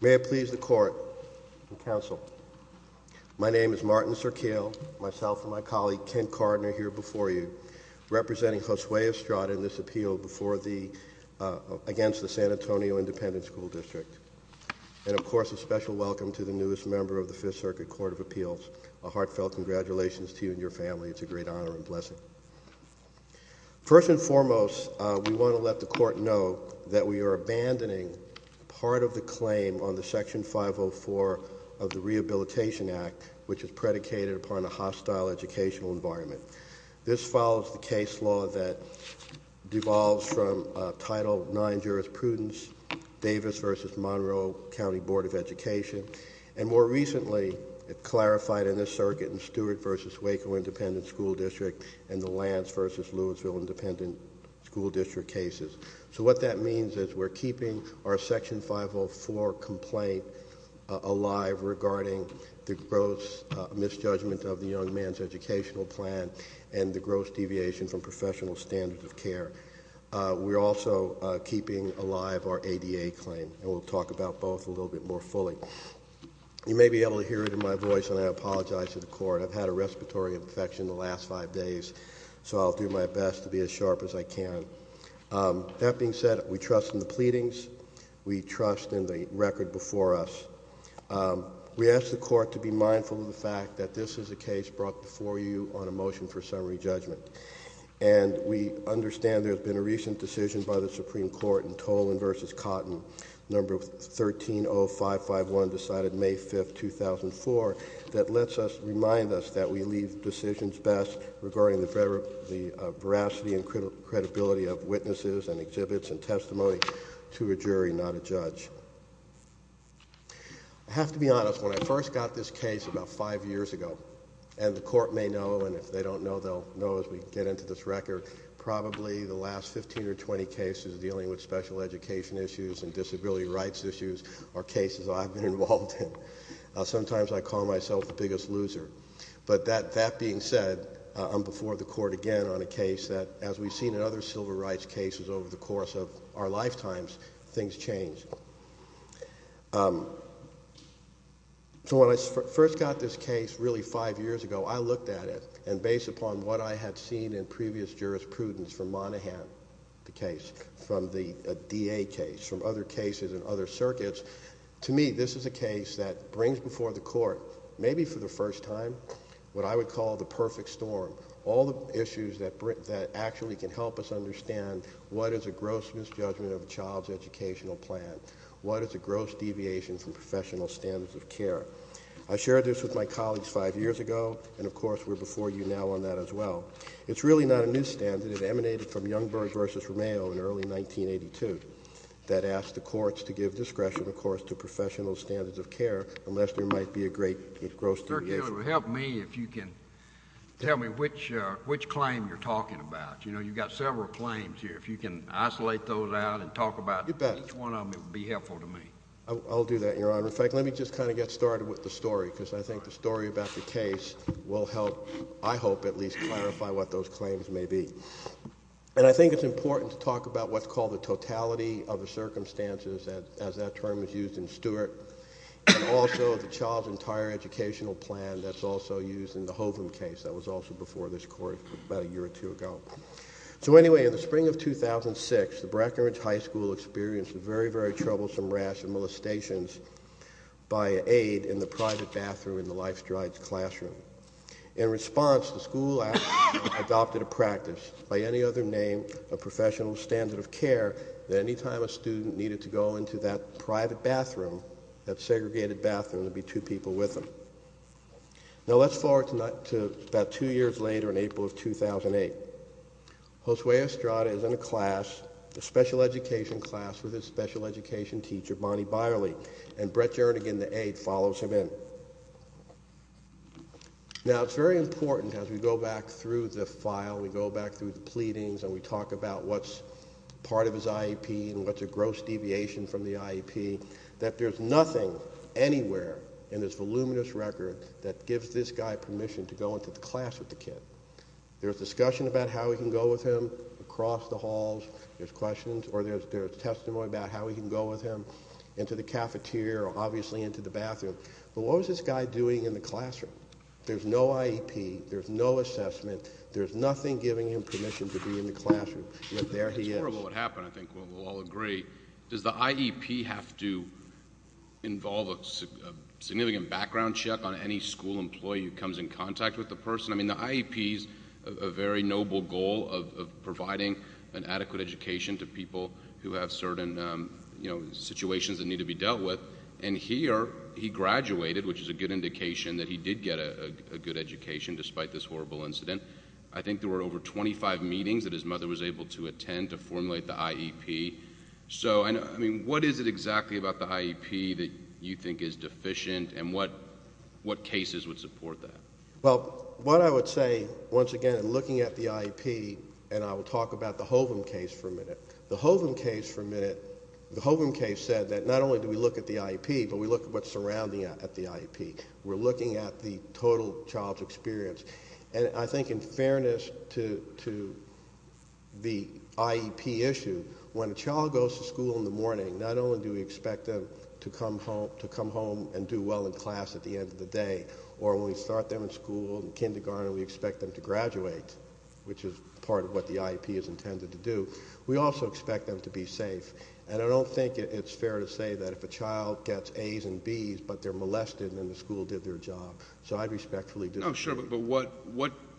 May it please the court and counsel, my name is Martin Serkiel, myself and my colleague Kent Cardner here before you representing Josue Estrada in this appeal against the San Antonio Independent School District. And of course a special welcome to the newest member of the Fifth Circuit Court of Appeals. A heartfelt congratulations to you and your family. It's a great honor and blessing. First and foremost, we want to let the court know that we are working on the Section 504 of the Rehabilitation Act, which is predicated upon a hostile educational environment. This follows the case law that devolves from Title IX jurisprudence, Davis v. Monroe County Board of Education. And more recently, it clarified in this circuit in Stewart v. Waco Independent School District and the Lance v. Louisville Independent School District cases. So what that means is we're keeping our Section 504 complaint alive regarding the gross misjudgment of the young man's educational plan and the gross deviation from professional standards of care. We're also keeping alive our ADA claim, and we'll talk about both a little bit more fully. You may be able to hear it in my voice, and I apologize to the court. I've had a respiratory infection the last five days, so I'll do my best to be as That being said, we trust in the pleadings. We trust in the record before us. We ask the court to be mindful of the fact that this is a case brought before you on a motion for summary judgment. And we understand there's been a recent decision by the Supreme Court in Tolan v. Cotton, No. 130551, decided May 5, 2004, that lets us remind us that we leave decisions best regarding the veracity and credibility of witnesses and exhibits and testimony to a jury, not a judge. I have to be honest, when I first got this case about five years ago, and the court may know, and if they don't know, they'll know as we get into this record, probably the last 15 or 20 cases dealing with special education issues and disability rights issues are cases I've been involved in. Sometimes I call myself the biggest loser. But that being said, I'm before the court again on a case that, as we've seen in other civil rights cases over the course of our lifetimes, things change. So when I first got this case really five years ago, I looked at it, and based upon what I had seen in previous jurisprudence from Monaghan, the case, from the DA case, from other cases in other circuits, to me, this is a case that brings before the court maybe for the first time what I would call the perfect storm, all the issues that actually can help us understand what is a gross misjudgment of a child's educational plan, what is a gross deviation from professional standards of care. I shared this with my colleagues five years ago, and of course we're before you now on that as well. It's really not a new standard. It emanated from Youngberg v. Romeo in early 1982 that asked the courts to give discretion, of course, to professional standards of care, unless there might be a great gross deviation. Help me if you can tell me which claim you're talking about. You know, you've got several claims here. If you can isolate those out and talk about each one of them, it would be helpful to me. I'll do that, Your Honor. In fact, let me just kind of get started with the story, because I think the story about the case will help, I hope, at least clarify what those claims may be. And I think it's important to talk about what's called the and also the child's entire educational plan that's also used in the Hovum case that was also before this Court about a year or two ago. So anyway, in the spring of 2006, the Brackenridge High School experienced very, very troublesome rash and molestations by aid in the private bathroom in the Life Strides classroom. In response, the school adopted a practice by any other name of professional standard of care that any time a student needed to go into that private bathroom, that segregated bathroom, there would be two people with them. Now, let's forward to about two years later in April of 2008. Josue Estrada is in a class, a special education class, with his special education teacher, Bonnie Byerly, and Brett Jernigan, the aide, follows him in. Now, it's very important as we go back through the file, we go back through the pleadings, and we talk about what's part of his IEP and what's a gross deviation from the IEP, that there's nothing anywhere in this voluminous record that gives this guy permission to go into the class with the kid. There's discussion about how he can go with him across the halls, there's questions, or there's testimony about how he can go with him into the cafeteria or obviously into the bathroom. But what was this guy doing in the classroom? There's no IEP, there's no assessment, there's nothing giving him permission to be in the classroom, but there he is. It's horrible what happened, I think we'll all agree. Does the IEP have to involve a significant background check on any school employee who comes in contact with the person? I mean, the IEP is a very noble goal of providing an adequate education to people who have certain situations that need to be dealt with, and here, he graduated, which is a good indication that he did get a good education despite this horrible incident. I think there were over 25 meetings that his mother was able to attend to formulate the IEP. So, I mean, what is it exactly about the IEP that you think is deficient, and what cases would support that? Well, what I would say, once again, in looking at the IEP, and I will talk about the Hovum case for a minute. The Hovum case for a minute, the Hovum case said that not only do we look at the IEP, but we look at what's surrounding it at the IEP. We're looking at the total child's experience, and I think in fairness to the IEP issue, when a child goes to school in the morning, not only do we expect them to come home and do well in class at the end of the day, or when we start them in school, in kindergarten, we expect them to graduate, which is part of what the IEP is intended to do. We also expect them to be safe, and I don't think it's fair to say that if a child gets A's and B's, but they're molested, then the school did their job. So I'd respectfully do that. Oh, sure, but what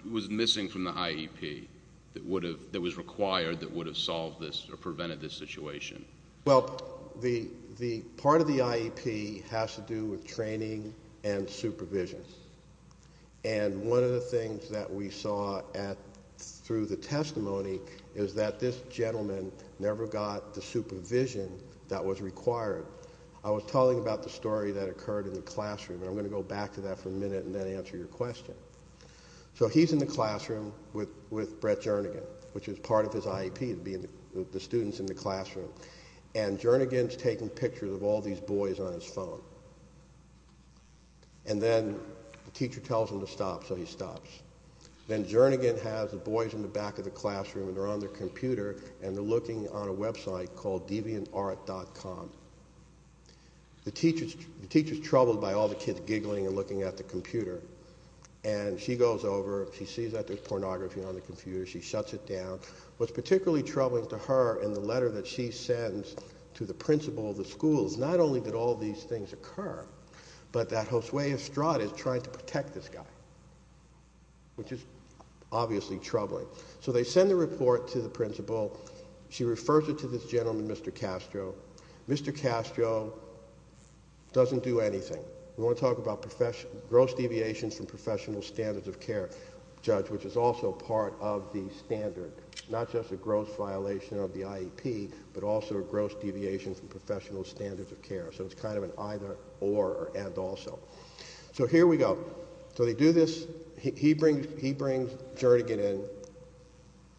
was missing from the IEP that was required that would have solved this or prevented this situation? Well, the part of the IEP has to do with training and supervision, and one of the things that we saw through the testimony is that this gentleman never got the supervision that was required. I was telling about the story that occurred in the classroom, and I'm going to go back to that for a minute and then answer your question. So he's in the classroom with Brett Jernigan, which is part of his IEP, being the students in the classroom, and Jernigan's taking pictures of all these boys on his phone, and then the teacher tells him to stop, so he stops. Then Jernigan has the boys in the back of the classroom, and they're on their way to school. The teacher's troubled by all the kids giggling and looking at the computer, and she goes over, she sees that there's pornography on the computer, she shuts it down. What's particularly troubling to her in the letter that she sends to the principal of the schools, not only did all these things occur, but that Josue Estrada is trying to protect this guy, which is obviously troubling. So they send the report to the principal. She refers it to this gentleman, Mr. Castro. Mr. Castro doesn't do anything. We want to talk about gross deviations from professional standards of care, Judge, which is also part of the standard, not just a gross violation of the IEP, but also a gross deviation from professional standards of care, so it's kind of an either, or, and, also. So here we go. So they do this, he brings Jernigan in.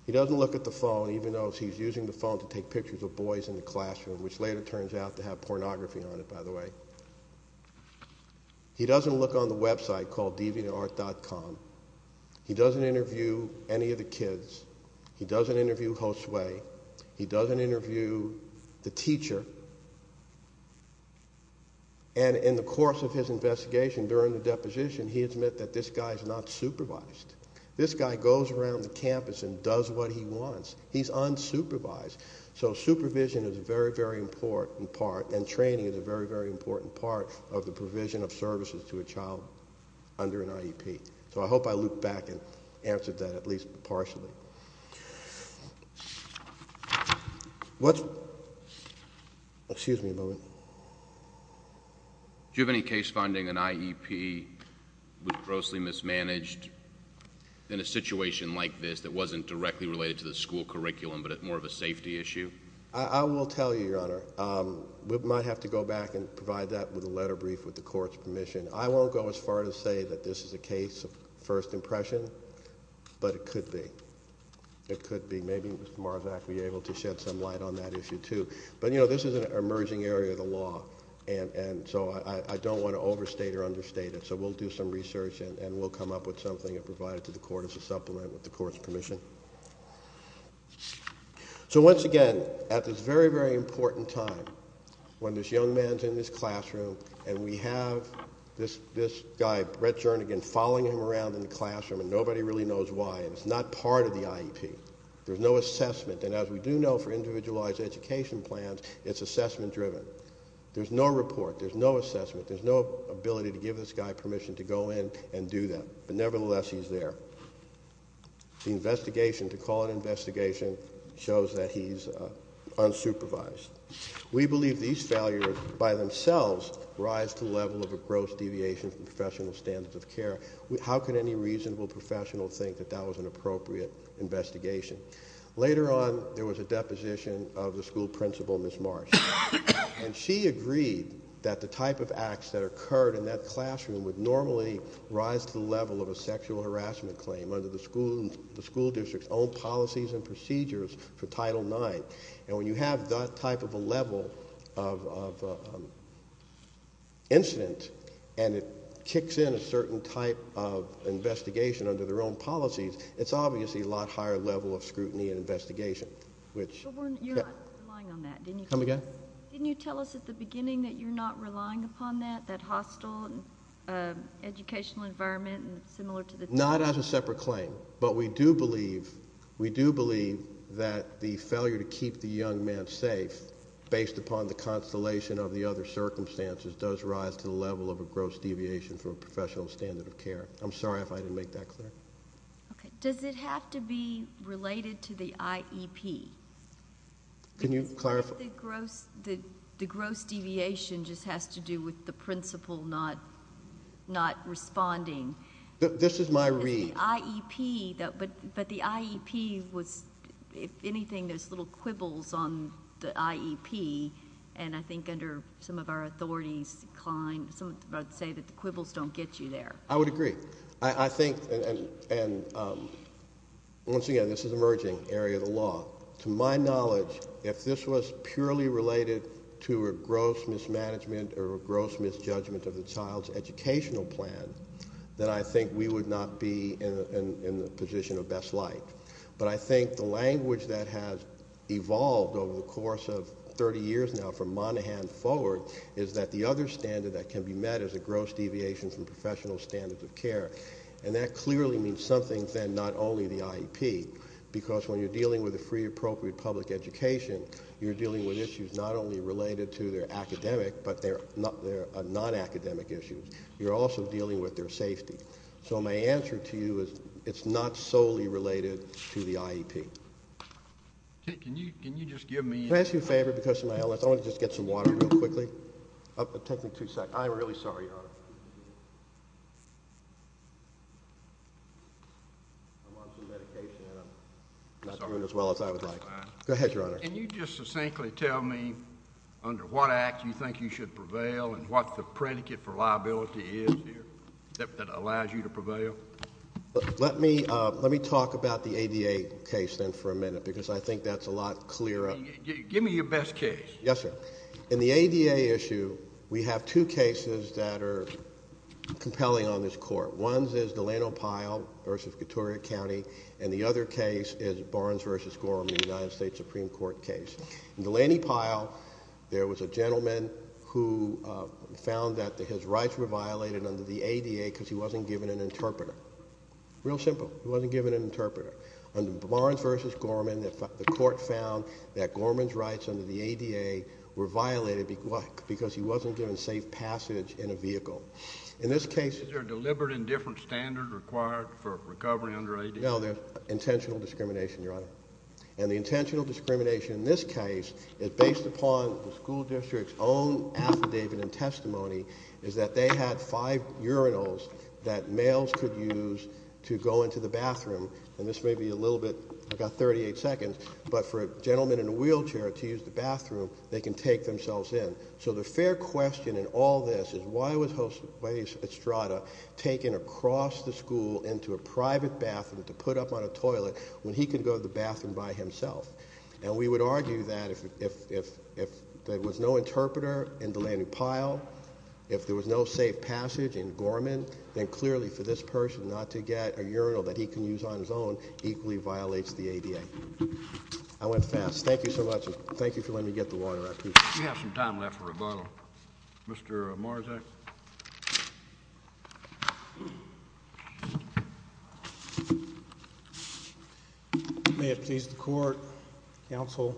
He doesn't look at the phone, even though he's using the phone to take pictures of boys in the classroom, which later turns out to have pornography on it, by the way. He doesn't look on the website called deviantart.com. He doesn't interview any of the kids. He doesn't interview Josue. He doesn't interview the teacher. And in the course of his investigation, during the deposition, he admits that this guy's not supervised. This guy goes around the campus and does what he wants. He's unsupervised. So supervision is a very, very important part, and training is a very, very important part of the provision of services to a child under an IEP. So I hope I looked back and answered that at least partially. Excuse me a moment. Do you have any case finding an IEP was grossly mismanaged in a situation like this that wasn't directly related to the school curriculum but more of a safety issue? I will tell you, Your Honor. We might have to go back and provide that with a letter brief with the court's permission. I won't go as far as to say that this is a case of first impression, but it could be. It could be. Maybe Mr. Marzak would be able to shed some light on that issue too. But this is an emerging area of the law, and so I don't want to overstate or understate it. So we'll do some research and we'll come up with something and provide it to the court as a supplement with the court's permission. So once again, at this very, very important time, when this young man's in this classroom and we have this guy, Brett Jernigan, following him around in the classroom, and nobody really knows why, and it's not part of the IEP. There's no assessment. And as we do know for individualized education plans, it's assessment driven. There's no report. There's no assessment. There's no ability to give this guy permission to go in and do that. But nevertheless, he's there. The investigation, to call it an investigation, shows that he's unsupervised. We believe these failures by themselves rise to the level of a gross deviation from professional standards of care. How could any reasonable professional think that that was an appropriate investigation? Later on, there was a deposition of the school principal, Ms. Marsh. And she agreed that the type of acts that occurred in that classroom would normally rise to the level of a sexual harassment claim under the school district's own policies and procedures for Title IX. And when you have that type of a level of incident, and it kicks in a certain type of investigation under their own policies, it's obviously a lot higher level of scrutiny and investigation, which... But weren't you not relying on that? Didn't you tell us at the beginning that you're not relying upon that, that hostile educational environment and similar to the... Not as a separate claim. But we do believe, we do believe that the failure to keep the young man safe, based upon the constellation of the other circumstances, does rise to the level of a gross deviation from a professional standard of care. I'm sorry if I didn't make that clear. Okay. Does it have to be related to the IEP? Can you clarify? The gross deviation just has to do with the principal not responding? This is my read. But the IEP was, if anything, there's little quibbles on the IEP, and I think under some of our authorities, some would say that the quibbles don't get you there. I would agree. I think, and once again, this is an emerging area of the law. To my knowledge, if this was purely related to a gross mismanagement or a gross misjudgment of the child's educational plan, then I think we would not be in the position of best light. But I think the language that has evolved over the course of 30 years now, from Monaghan forward, is that the other standard that can be met is a gross deviation from professional standards of care. And that clearly means something, then, not only the IEP, because when you're dealing with a free appropriate public education, you're dealing with issues not only related to their academic, but their non-academic issues. You're also dealing with their safety. So my answer to you is it's not solely related to the IEP. Can you just give me a minute? If I ask you a favor, because of my illness, I want to just get some water real quickly. Take me two seconds. I'm really sorry, Your Honor. I'm on some medication, and I'm not doing as well as I would like. Go ahead, Your Honor. Can you just succinctly tell me under what act you think you should prevail and what the predicate for liability is that allows you to prevail? Let me talk about the ADA case, then, for a minute, because I think that's a lot clearer. Give me your best case. Yes, sir. In the ADA issue, we have two cases that are compelling on this Court. One is Delano Pyle v. Katoria County, and the other case is Barnes v. Gorham, the United States Supreme Court case. In Delaney Pyle, there was a gentleman who found that his rights were violated under the ADA because he wasn't given an interpreter. Real simple. He wasn't given an interpreter. Under Barnes v. Gorham, the Court found that Gorham's rights under the ADA were violated because he wasn't given safe passage in a vehicle. In this case— Is there a deliberate indifference standard required for recovery under ADA? No, there's intentional discrimination, Your Honor. And the intentional discrimination in this case is based upon the school district's own affidavit and testimony, is that they had five urinals that males could use to go into the bathroom. And this may be a little bit—I've got 38 seconds—but for a gentleman in a wheelchair to use the bathroom, they can take themselves in. So the fair question in all this is why was Jose Estrada taken across the school into a private bathroom to put up on a toilet when he could go to the bathroom by himself? And we would argue that if there was no interpreter in Delaney Pyle, if there was no safe passage in Gorham, then clearly for this person not to get a urinal that he can use on his own equally violates the ADA. I went fast. Thank you so much. May it please the Court, Counsel,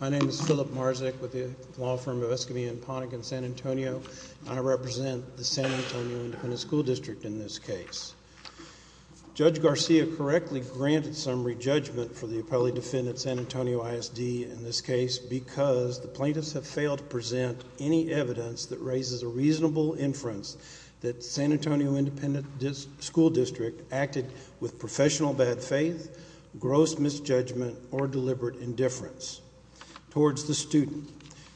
my name is Philip Marzek with the law firm of Escamilla and Ponic in San Antonio. I represent the San Antonio Independent School District in this case. Judge Garcia correctly granted summary judgment for the appellee defendant San Antonio ISD in this case because the plaintiffs have failed to present any evidence that raises a reasonable inference that the San Antonio Independent School District acted with professional bad faith, gross misjudgment, or deliberate indifference towards the student.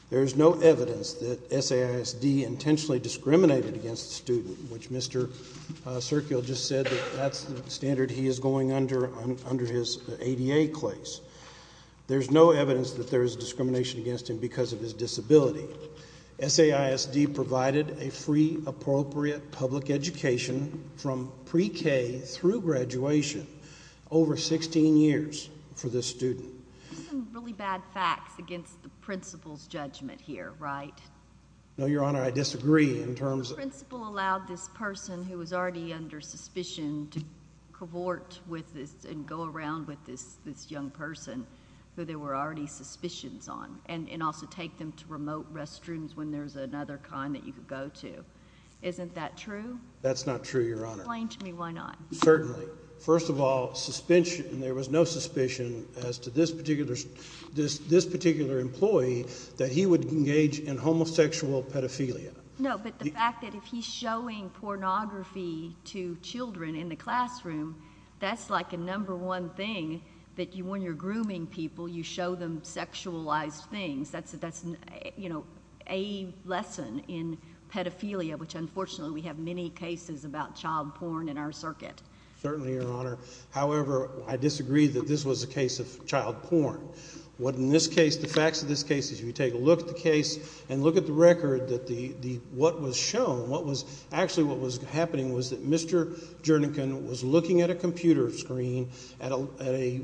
There is no evidence that SAISD intentionally discriminated against the student, which Mr. Sergio just said that that's the standard he is going under under his ADA claims. There's no evidence that there is discrimination against him because of his disability. SAISD provided a free, appropriate public education from pre-K through graduation over 16 years for this student. These are really bad facts against the principal's judgment here, right? No, Your Honor, I disagree in terms of... The principal allowed this person who was already under suspicion to cavort with this and go around with this young person who they were already suspicions on, and also take them to remote restrooms when there's another kind that you could go to. Isn't that true? That's not true, Your Honor. Explain to me why not. Certainly. First of all, there was no suspicion as to this particular employee that he would engage in homosexual pedophilia. No, but the fact that if he's showing pornography to children in the classroom, that's like a number one thing that when you're grooming people, you show them sexualized things. That's a lesson in pedophilia, which unfortunately we have many cases about child porn in our circuit. Certainly, Your Honor. However, I disagree that this was a case of child porn. What in this case... The facts of this case is you take a look at the case and look at the record that what was shown, what was... Actually, what was happening was that Mr. Jernigan was looking at a computer screen at a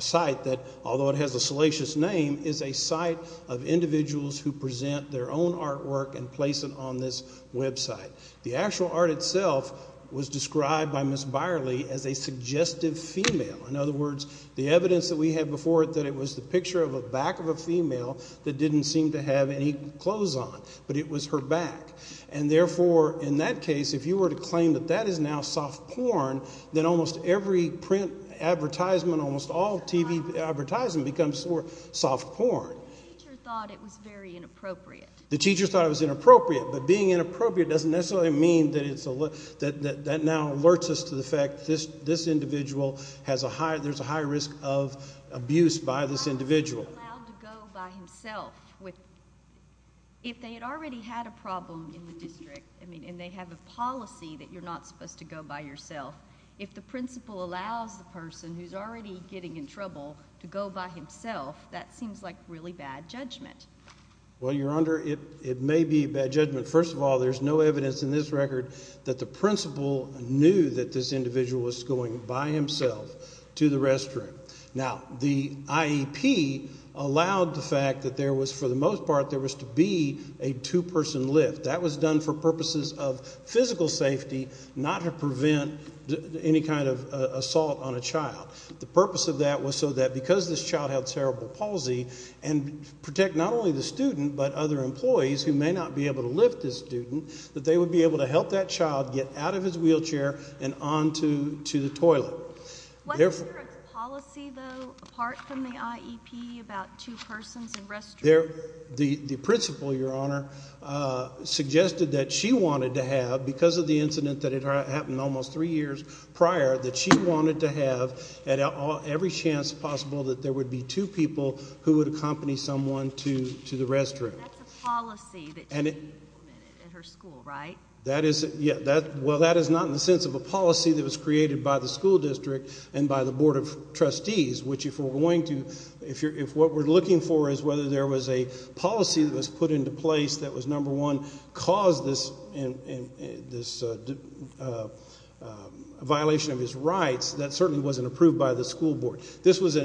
site that, although it has a salacious name, is a site of individuals who present their own artwork and place it on this website. The actual art itself was described by Ms. Byerly as a suggestive female. In other words, the evidence that we had before that it was the picture of a back of a female that didn't seem to have any clothes on, but it was her back. Therefore, in that case, if you were to claim that that is now soft porn, then almost every print advertisement, almost all TV advertising becomes soft porn. The teacher thought it was very inappropriate. The teacher thought it was inappropriate, but being inappropriate doesn't necessarily mean that it's... that now alerts us to the fact that this individual has a high... there's a high risk of abuse by this individual. If they had already had a problem in the district, and they have a policy that you're not supposed to go by yourself, if the principal allows the person who's already getting in trouble to go by himself, that seems like really bad judgment. Well, Your Honor, it may be bad judgment. First of all, there's no evidence in this record that the principal knew that this individual was going by himself to the restroom. Now, the IEP allowed the fact that there was, for the most part, there was to be a two-person lift. That was done for purposes of physical safety, not to prevent any kind of assault on a child. The purpose of that was so that because this child had cerebral palsy, and protect not only the student, but other employees who may not be able to lift this student, that they would be able to help that child get out of his wheelchair and on to the toilet. Wasn't there a policy, though, apart from the IEP, about two persons in restrooms? The principal, Your Honor, suggested that she wanted to have, because of the incident that had happened almost three years prior, that she wanted to have, at every chance possible, that there would be two people who would accompany someone to the restroom. That's a policy that she implemented in her school, right? Well, that is not in the sense of a policy that was created by the school district and by the Board of Trustees, which if we're going to, if what we're looking for is whether there was a policy that was put into place that was, number one, caused this violation of his rights, that certainly wasn't approved by the school board. This was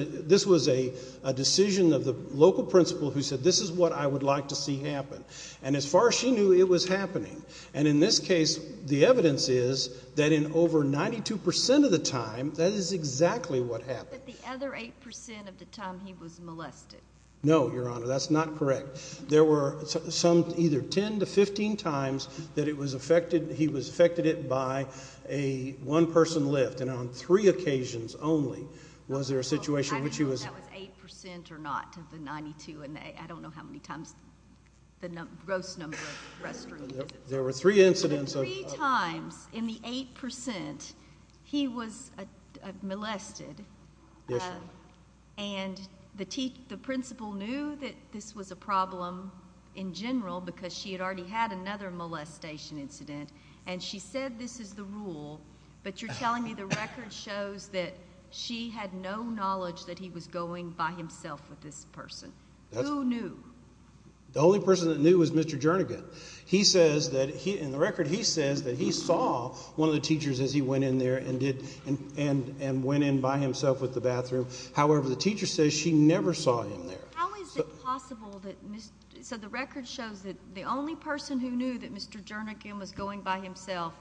a decision of the local principal who said, this is what I would like to see happen. And as far as she knew, it was happening. And in this case, the evidence is that in over 92 percent of the time, that is exactly what happened. But the other 8 percent of the time, he was molested. No, Your Honor, that's not correct. There were some, either 10 to 15 times that it was affected, he was affected by a one-person lift. And on three occasions only, was there a situation in which he was... I don't know if that was 8 percent or not, the 92, and I don't know how many times, the gross number of restrooms. There were three incidents of... Three times in the 8 percent, he was molested, and the principal knew that this was a problem in general because she had already had another molestation incident, and she said, this is the rule. But you're telling me the record shows that she had no knowledge that he was going by himself with this person. Who knew? The only person that knew was Mr. Jernigan. He says that, in the record, he says that he saw one of the teachers as he went in there and went in by himself with the bathroom. However, the teacher says she never saw him there. How is it possible that... So the record shows that the only person who knew that Mr. Jernigan was going by himself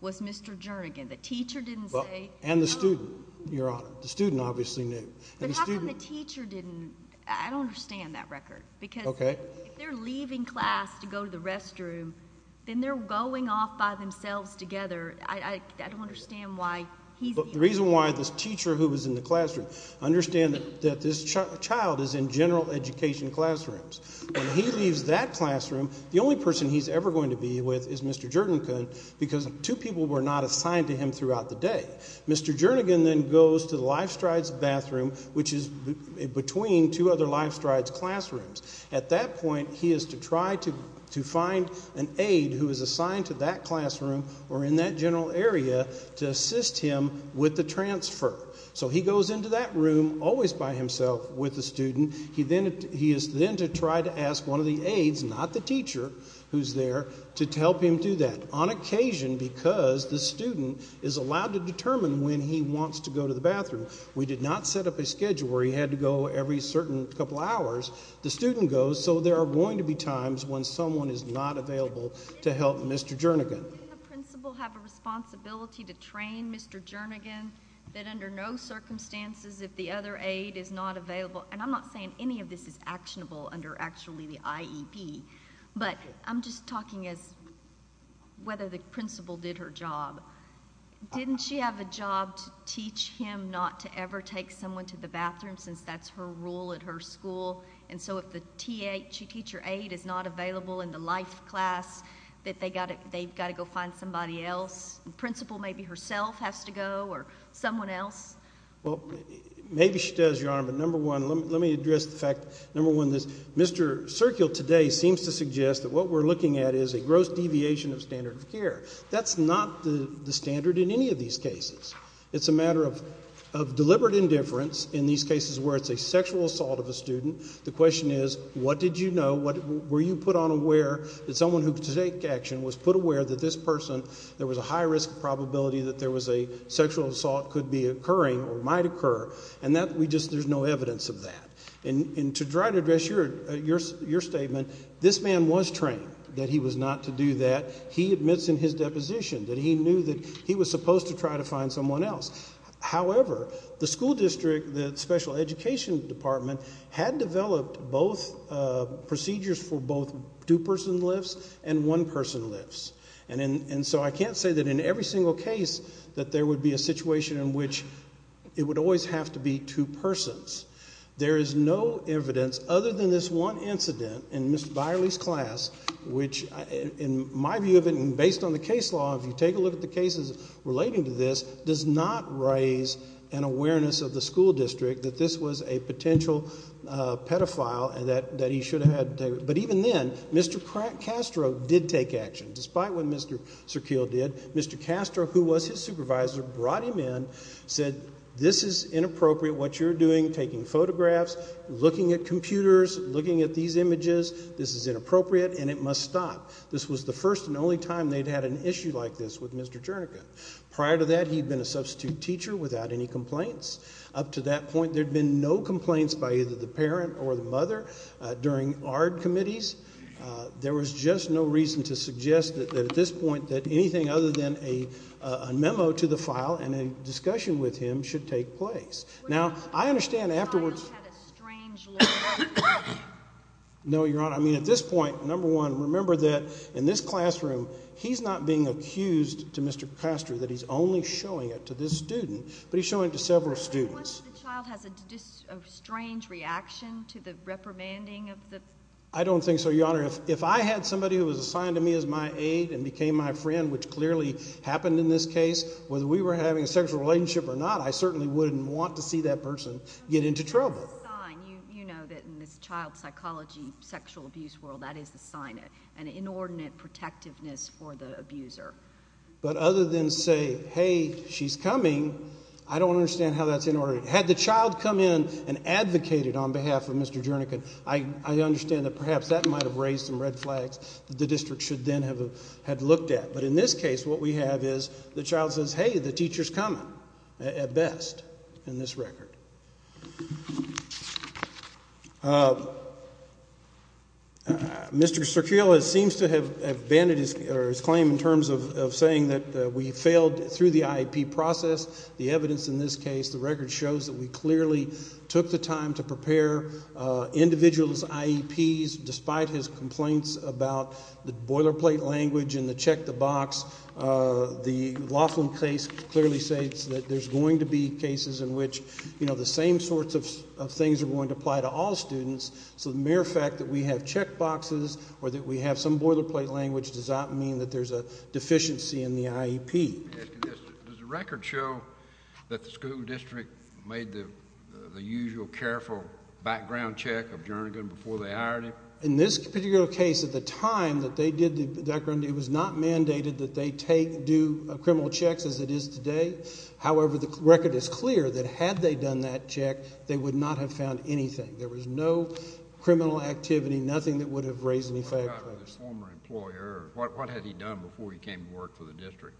was Mr. Jernigan. The teacher didn't say... And the student, Your Honor. The student obviously knew. But how come the teacher didn't... I don't understand that record because if they're leaving class to go to the restroom, then they're going off by themselves together. I don't understand why he's... The reason why this teacher who was in the classroom... Understand that this child is in general education classrooms. When he leaves that classroom, the only person he's ever going to be with is Mr. Jernigan because two people were not assigned to him throughout the day. Mr. Jernigan then goes to the Lifestrides bathroom, which is between two other Lifestrides classrooms. At that point, he is to try to find an aide who is assigned to that classroom or in that general area to assist him with the transfer. He goes into that room, always by himself with the student. He is then to try to ask one of the aides, not the teacher who's there, to help him do that, on occasion because the teacher is not to determine when he wants to go to the bathroom. We did not set up a schedule where he had to go every certain couple hours. The student goes, so there are going to be times when someone is not available to help Mr. Jernigan. Didn't the principal have a responsibility to train Mr. Jernigan that under no circumstances if the other aide is not available... I'm not saying any of this is actionable under actually the IEP, but I'm just talking as whether the principal did her job. Didn't she have a job to teach him not to ever take someone to the bathroom, since that's her rule at her school? If the teacher aide is not available in the life class, that they've got to go find somebody else? The principal maybe herself has to go or someone else? Maybe she does, Your Honor, but number one, let me address the fact, number one, that Mr. Serkiel today seems to suggest that what we're looking at is a gross deviation of standard of care. That's not the standard in any of these cases. It's a matter of deliberate indifference in these cases where it's a sexual assault of a student. The question is, what did you know? Were you put on aware that someone who could take action was put aware that this person, there was a high risk probability that there was a sexual assault could be occurring or might occur? There's no evidence of that. And to try to address your statement, this man was trained that he was not to do that. He admits in his deposition that he knew that he was supposed to try to find someone else. However, the school district, the special education department, had developed both procedures for both two-person lifts and one-person lifts. And so I can't say that in every single case that there would be a situation in which it would always have to be two persons. There is no evidence, other than this one incident in Mr. Byerly's class, which in my view of it and based on the case law, if you take a look at the cases relating to this, does not raise an awareness of the school district that this was a potential pedophile and that he should have had taken action. But even then, Mr. Castro did take action. Despite what Mr. Serkeel did, Mr. Castro, who was his supervisor, brought him in, said this is inappropriate, what you're doing, taking photographs, looking at computers, looking at these images, this is inappropriate and it must stop. This was the first and only time they'd had an issue like this with Mr. Jernigan. Prior to that, he'd been a substitute teacher without any complaints. Up to that point, there'd been no complaints by either the parent or the mother during ARD committees. There was just no reason to suggest that at this point, that anything other than a memo to the file and a discussion with him should take place. Now, I understand afterwards. No, Your Honor. I mean, at this point, number one, remember that in this classroom, he's not being accused to Mr. Castro that he's only showing it to this student, but he's showing it to several students. I don't think so, Your Honor. If I had somebody who was assigned to me as my aide and became my friend, which clearly happened in this case, whether we were having a sexual relationship or not, I certainly wouldn't want to see that person get into trouble. But other than say, hey, she's coming, I don't understand how that's inordinate. Had the child come in and advocated on behalf of Mr. Jernigan, I understand that perhaps that might have raised some red flags that the district should then have looked at. But in this case, what we have is the best in this record. Mr. Cerquiel seems to have abandoned his claim in terms of saying that we failed through the IEP process. The evidence in this case, the record shows that we clearly took the time to prepare individuals' IEPs despite his complaints about the boilerplate language and the check the box. The Laughlin case clearly states that there's going to be cases in which the same sorts of things are going to apply to all students. So the mere fact that we have check boxes or that we have some boilerplate language does not mean that there's a deficiency in the IEP. Does the record show that the school district made the usual careful background check of Jernigan before they hired him? In this particular case, at the time that they did the background, it was not mandated that they take, do criminal checks as it is today. However, the record is clear that had they done that check, they would not have found anything. There was no criminal activity, nothing that would have raised any factors. What had he done before he came to work for the district?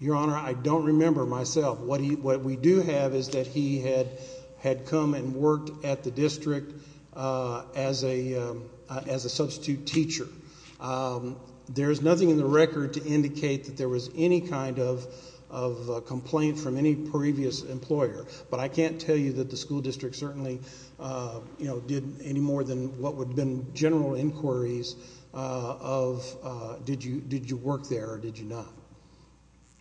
Your Honor, I don't remember myself. What we do have is that he had come and worked at the district as a substitute teacher. There's nothing in the record to indicate that there was any kind of complaint from any previous employer, but I can't tell you that the school district certainly, you know, did any more than what would have been general inquiries of did you work there or did you not?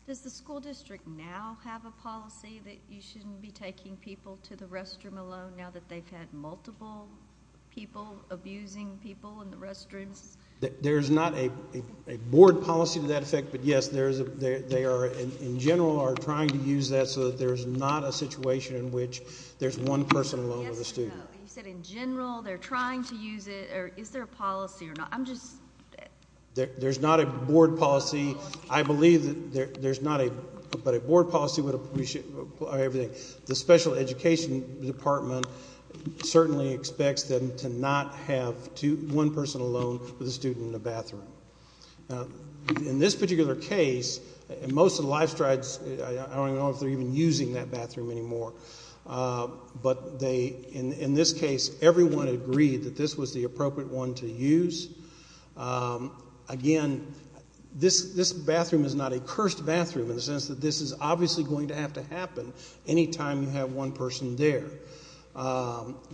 Does the school district now have a policy that you shouldn't be taking people to the restroom alone now that they've had multiple people abusing people in the restrooms? There's not a board policy to that effect, but yes, they are in general are trying to use that so that there's not a situation in which there's one person alone with a student. You said in general, they're trying to use it or is there a policy or not? There's not a board policy. I believe that there's not a, but a board policy would appreciate everything. The special education department certainly expects them to not have one person alone with a student in the bathroom. In this particular case, most of the Lifestrides, I don't even know if they're even using that bathroom anymore, but they, in this case, everyone agreed that this was the appropriate one to use. Again, this bathroom is not a bathroom that can happen anytime you have one person there.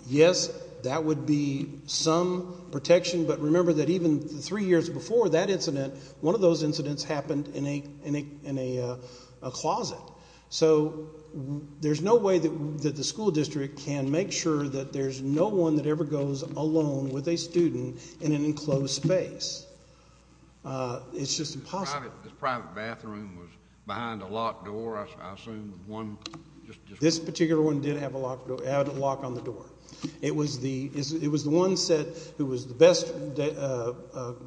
Yes, that would be some protection, but remember that even three years before that incident, one of those incidents happened in a closet. So there's no way that the school district can make sure that there's no one that ever goes alone with a student in an enclosed space. It's just impossible. This private bathroom was behind a locked door, I assume, with one person. This particular one did have a lock on the door. It was the one set who was the best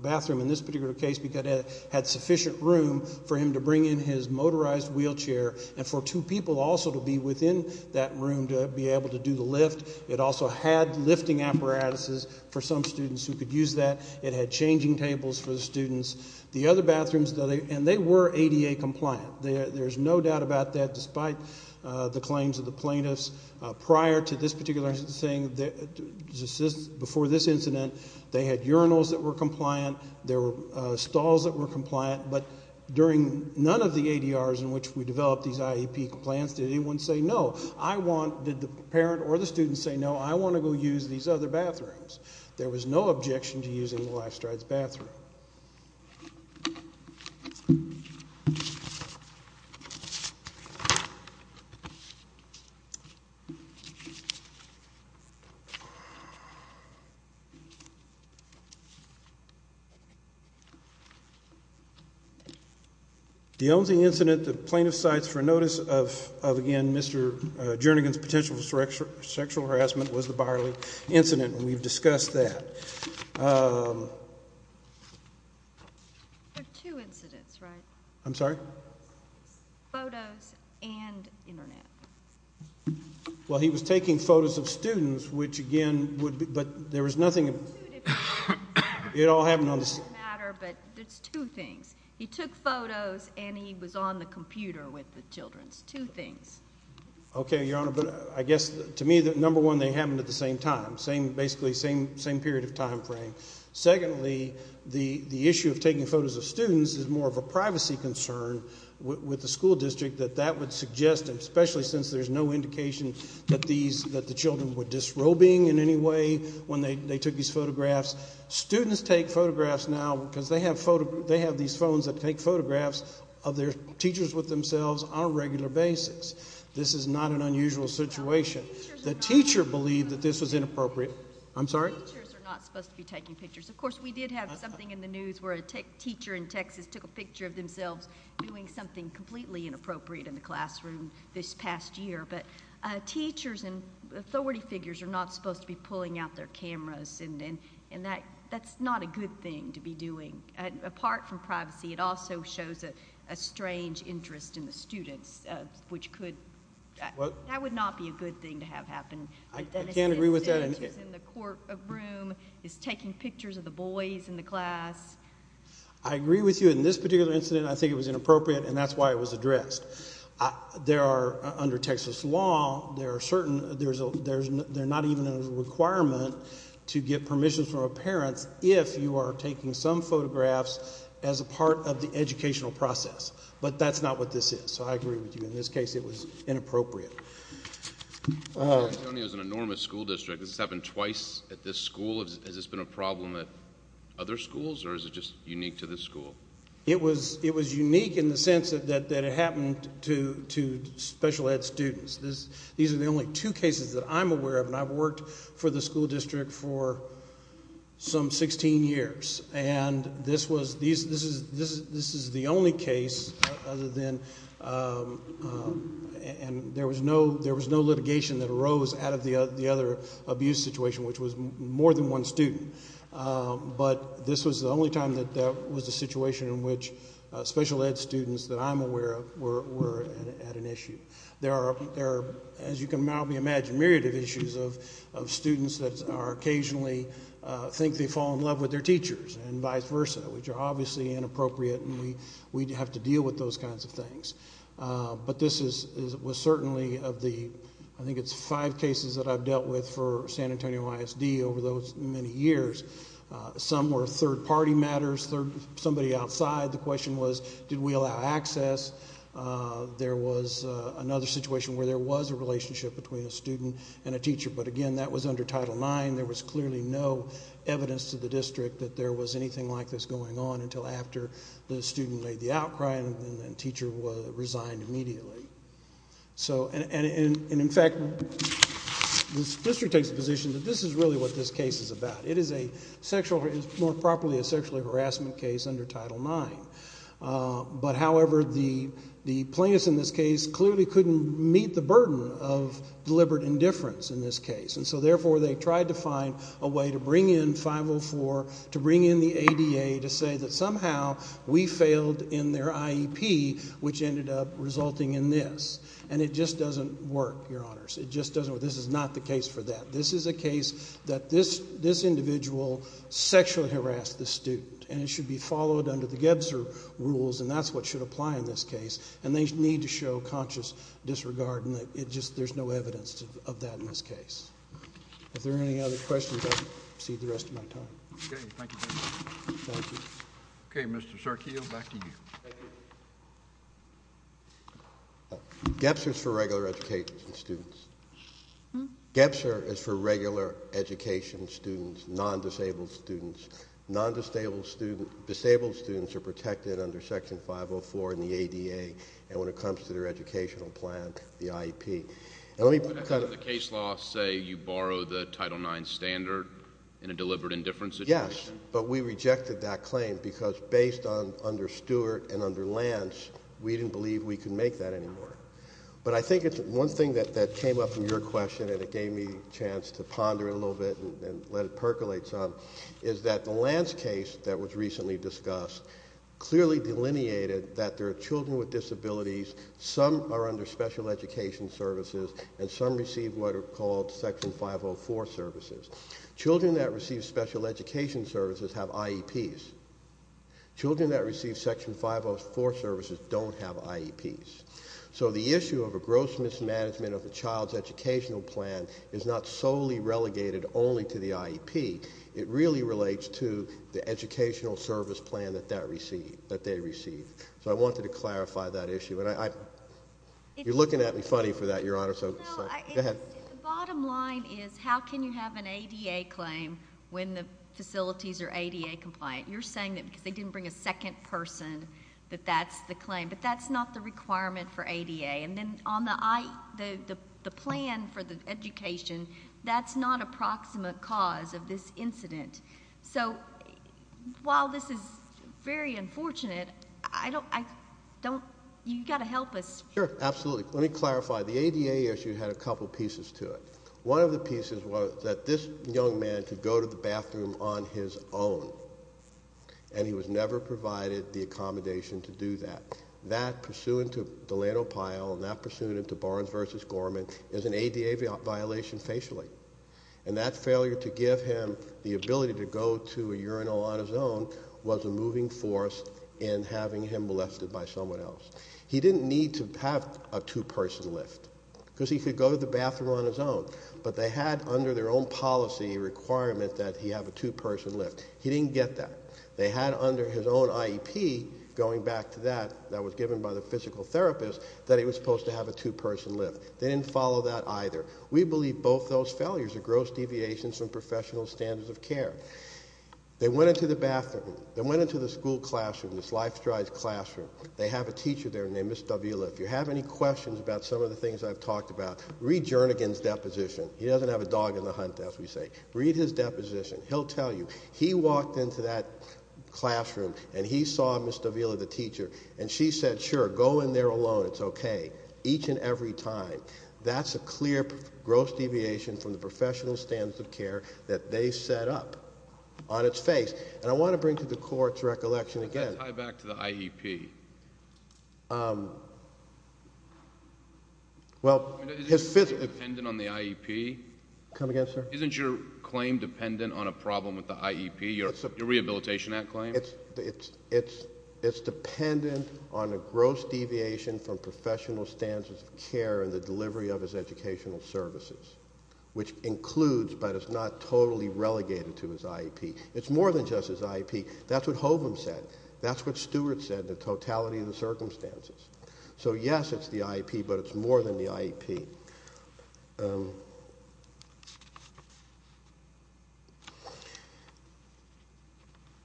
bathroom in this particular case because it had sufficient room for him to bring in his motorized wheelchair and for two people also to be within that room to be able to do the lift. It also had lifting apparatuses for some students who could use that. It had changing tables for the students. The other bathrooms, and they were ADA compliant. There's no doubt about that despite the claims of the plaintiffs. Prior to this particular incident, before this incident, they had urinals that were compliant. There were stalls that were compliant, but during none of the ADRs in which we developed these IEP plans, did anyone say no? Did the parent or the student say, no, I want to go use these other bathrooms? There was no objection to using the Lifestride's bathroom. The only incident the plaintiff cites for notice of, again, Mr. Jernigan's potential sexual harassment was the Barley incident, and we've discussed that. There are two incidents, right? I'm sorry? Photos and internet. Well, he was taking photos of students, which again would be, but there was nothing, it all happened on the same day. It doesn't matter, but there's two things. He took photos and he was on the computer with the children. Two things. Okay, Your Honor, but I guess to me, number one, they happened at the same time. Basically, same period of time frame. Secondly, the issue of taking photos of students is more of a privacy concern with the school district that that would suggest, especially since there's no indication that the children were disrobing in any way when they took these photographs. Students take photographs now because they have these phones that take photographs of their teachers with themselves on a regular basis. This is not an unusual situation. The teacher believed that this was inappropriate. I'm sorry? Teachers are not supposed to be taking pictures. Of course, we did have something in the news where a teacher in Texas took a picture of themselves doing something completely inappropriate in the classroom this past year, but teachers and authority figures are not supposed to be pulling out their cameras, and that's not a good thing to be doing. Apart from privacy, it also shows a strange interest in the students, which could, that would not be a good thing to have happen. I can't agree with that. It's in the courtroom, it's taking pictures of the boys in the class. I agree with you. In this particular incident, I think it was inappropriate, and that's why it was addressed. There are, under Texas law, there are certain, there's a, there's not even a requirement to get permissions from a parent if you are taking some photographs as a part of the educational process, but that's not what this is, so I agree with you. In this case, it was inappropriate. California is an enormous school district. This has happened twice at this school. Has this been a problem at other schools, or is it just unique to this school? It was unique in the sense that it happened to special ed students. These are the only two cases that I'm aware of, and I've worked for the school district for some 16 years, and this was, this is the only case other than, and there was no litigation that arose out of the other abuse situation, which was more than one student, but this was the only time that there was a situation in which special ed students that I'm aware of were at an issue. There are, as you can probably imagine, myriad of issues of students that are occasionally think they fall in love with their teachers and vice versa, which are obviously inappropriate and we have to deal with those kinds of things, but this is, was certainly of the, I think it's five cases that I've dealt with for San Antonio ISD over those many years. Some were third party matters, somebody outside. The question was, did we allow access? There was another situation where there was a relationship between a student and a teacher, but again, that was under Title IX. There was clearly no evidence to the district that there was anything like this going on until after the student made the outcry and the teacher resigned immediately. So, and in fact, this district takes the position that this is really what this case is about. It is a sexual, more properly, a sexual harassment case under Title IX, but however, the plaintiffs in this case clearly couldn't meet the burden of deliberate indifference in this case, and so therefore they tried to find a way to bring in 504, to bring in the ADA to say that somehow we failed in their IEP, which ended up resulting in this, and it just doesn't work, your honors. It just doesn't work. This is not the case for that. This is a case that this individual sexually harassed the student and it should be followed under the Gebser rules and that's what should apply in this case, and they need to show conscious disregard and that it just, there's no evidence of that in this case. If there are any other questions, I'll proceed the rest of my time. Okay, thank you, Judge. Thank you. Okay, Mr. Sarkeel, back to you. Thank you. Gebser is for regular education students. Gebser is for regular education students, non-disabled students. Non-disabled students, disabled students are protected under Section 504 and the ADA, and when it comes to their educational plan, the IEP. And let me put it kind of... But doesn't the case law say you borrow the Title IX standard in a deliberate indifference situation? Yes, but we rejected that claim because based on, under Stewart and under Lance, we didn't believe we could make that anymore. But I think it's one thing that came up in your question and it gave me a chance to ponder a little bit and let it percolate some, is that the Lance case that was recently discussed clearly delineated that there are children with disabilities, some are under special education services, and some receive what are called Section 504 services. Children that receive special education services have IEPs. Children that receive Section 504 services don't have IEPs. So the issue of a gross mismanagement of a child's educational plan is not solely relegated only to the IEP. It really relates to the educational service plan that they receive. So I wanted to clarify that issue. And you're looking at me funny for that, Your Honor, so... No, it's... Go ahead. The bottom line is how can you have an ADA claim when the facilities are ADA compliant? You're saying that because they didn't bring a second person that that's the claim. But that's not the requirement for ADA. And then on the plan for the education, that's not a proximate cause of this incident. So while this is very unfortunate, I don't... you've got to help us. Sure, absolutely. Let me clarify. The ADA issue had a couple pieces to it. One of the pieces was that this young man could go to the bathroom on his own, and he was never provided the accommodation to do that. That, pursuant to Delano Pyle, and that pursuant to Barnes v. Gorman, is an ADA violation facially. And that failure to give him the ability to go to a urinal on his own was a moving force in having him molested by someone else. He didn't need to have a two-person lift, because he could go to the bathroom on his own. But they had under their own policy a requirement that he have a two-person lift. He didn't get that. They had under his own IEP, going back to that, that was given by the physical therapist, that he was supposed to have a two-person lift. They didn't follow that either. We believe both those failures are gross deviations from professional standards of care. They went into the bathroom. They went into the school classroom, this Life Strides classroom. They have a teacher there named Ms. Davila. If you have any questions about some of the things I've talked about, read Jernigan's deposition. He doesn't have a dog in the hunt, as we say. Read his deposition. He'll tell you. He walked into that classroom, and he saw Ms. Davila, the teacher, and she said, sure, go in there alone. It's okay. Each and every time. That's a clear gross deviation from the professional standards of care that they set up on its face. And I want to bring to the Court's recollection again... Does that tie back to the IEP? Well, his... Isn't your claim dependent on the IEP? Come again, sir? Isn't your claim dependent on a problem with the IEP, your Rehabilitation Act claim? It's dependent on a gross deviation from professional standards of care in the delivery of his educational services, which includes, but is not totally relegated to, his IEP. It's more than just his IEP. That's what Holman said. That's what Stewart said, the totality of the circumstances. So, yes, it's the IEP, but it's more than the IEP.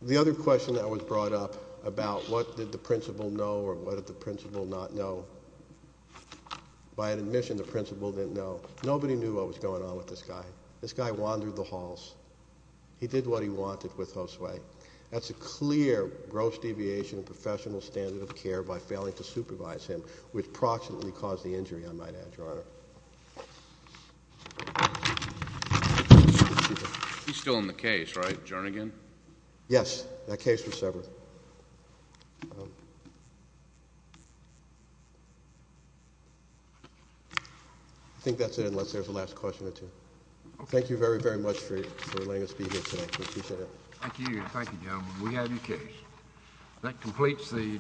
The other question that was brought up about what did the principal know or what did the principal not know. By admission, the principal didn't know. Nobody knew what was going on with this guy. This guy wandered the halls. He did what he wanted with Josue. That's a clear gross deviation of professional standard of care by failing to supervise him, which approximately caused the injury, I might add, Your Honor. He's still in the case, right? Jernigan? Yes. That case was severed. I think that's it, unless there's a last question or two. Okay. Thank you very, very much for letting us be here today. We appreciate it. Thank you. Thank you, gentlemen. We have your case.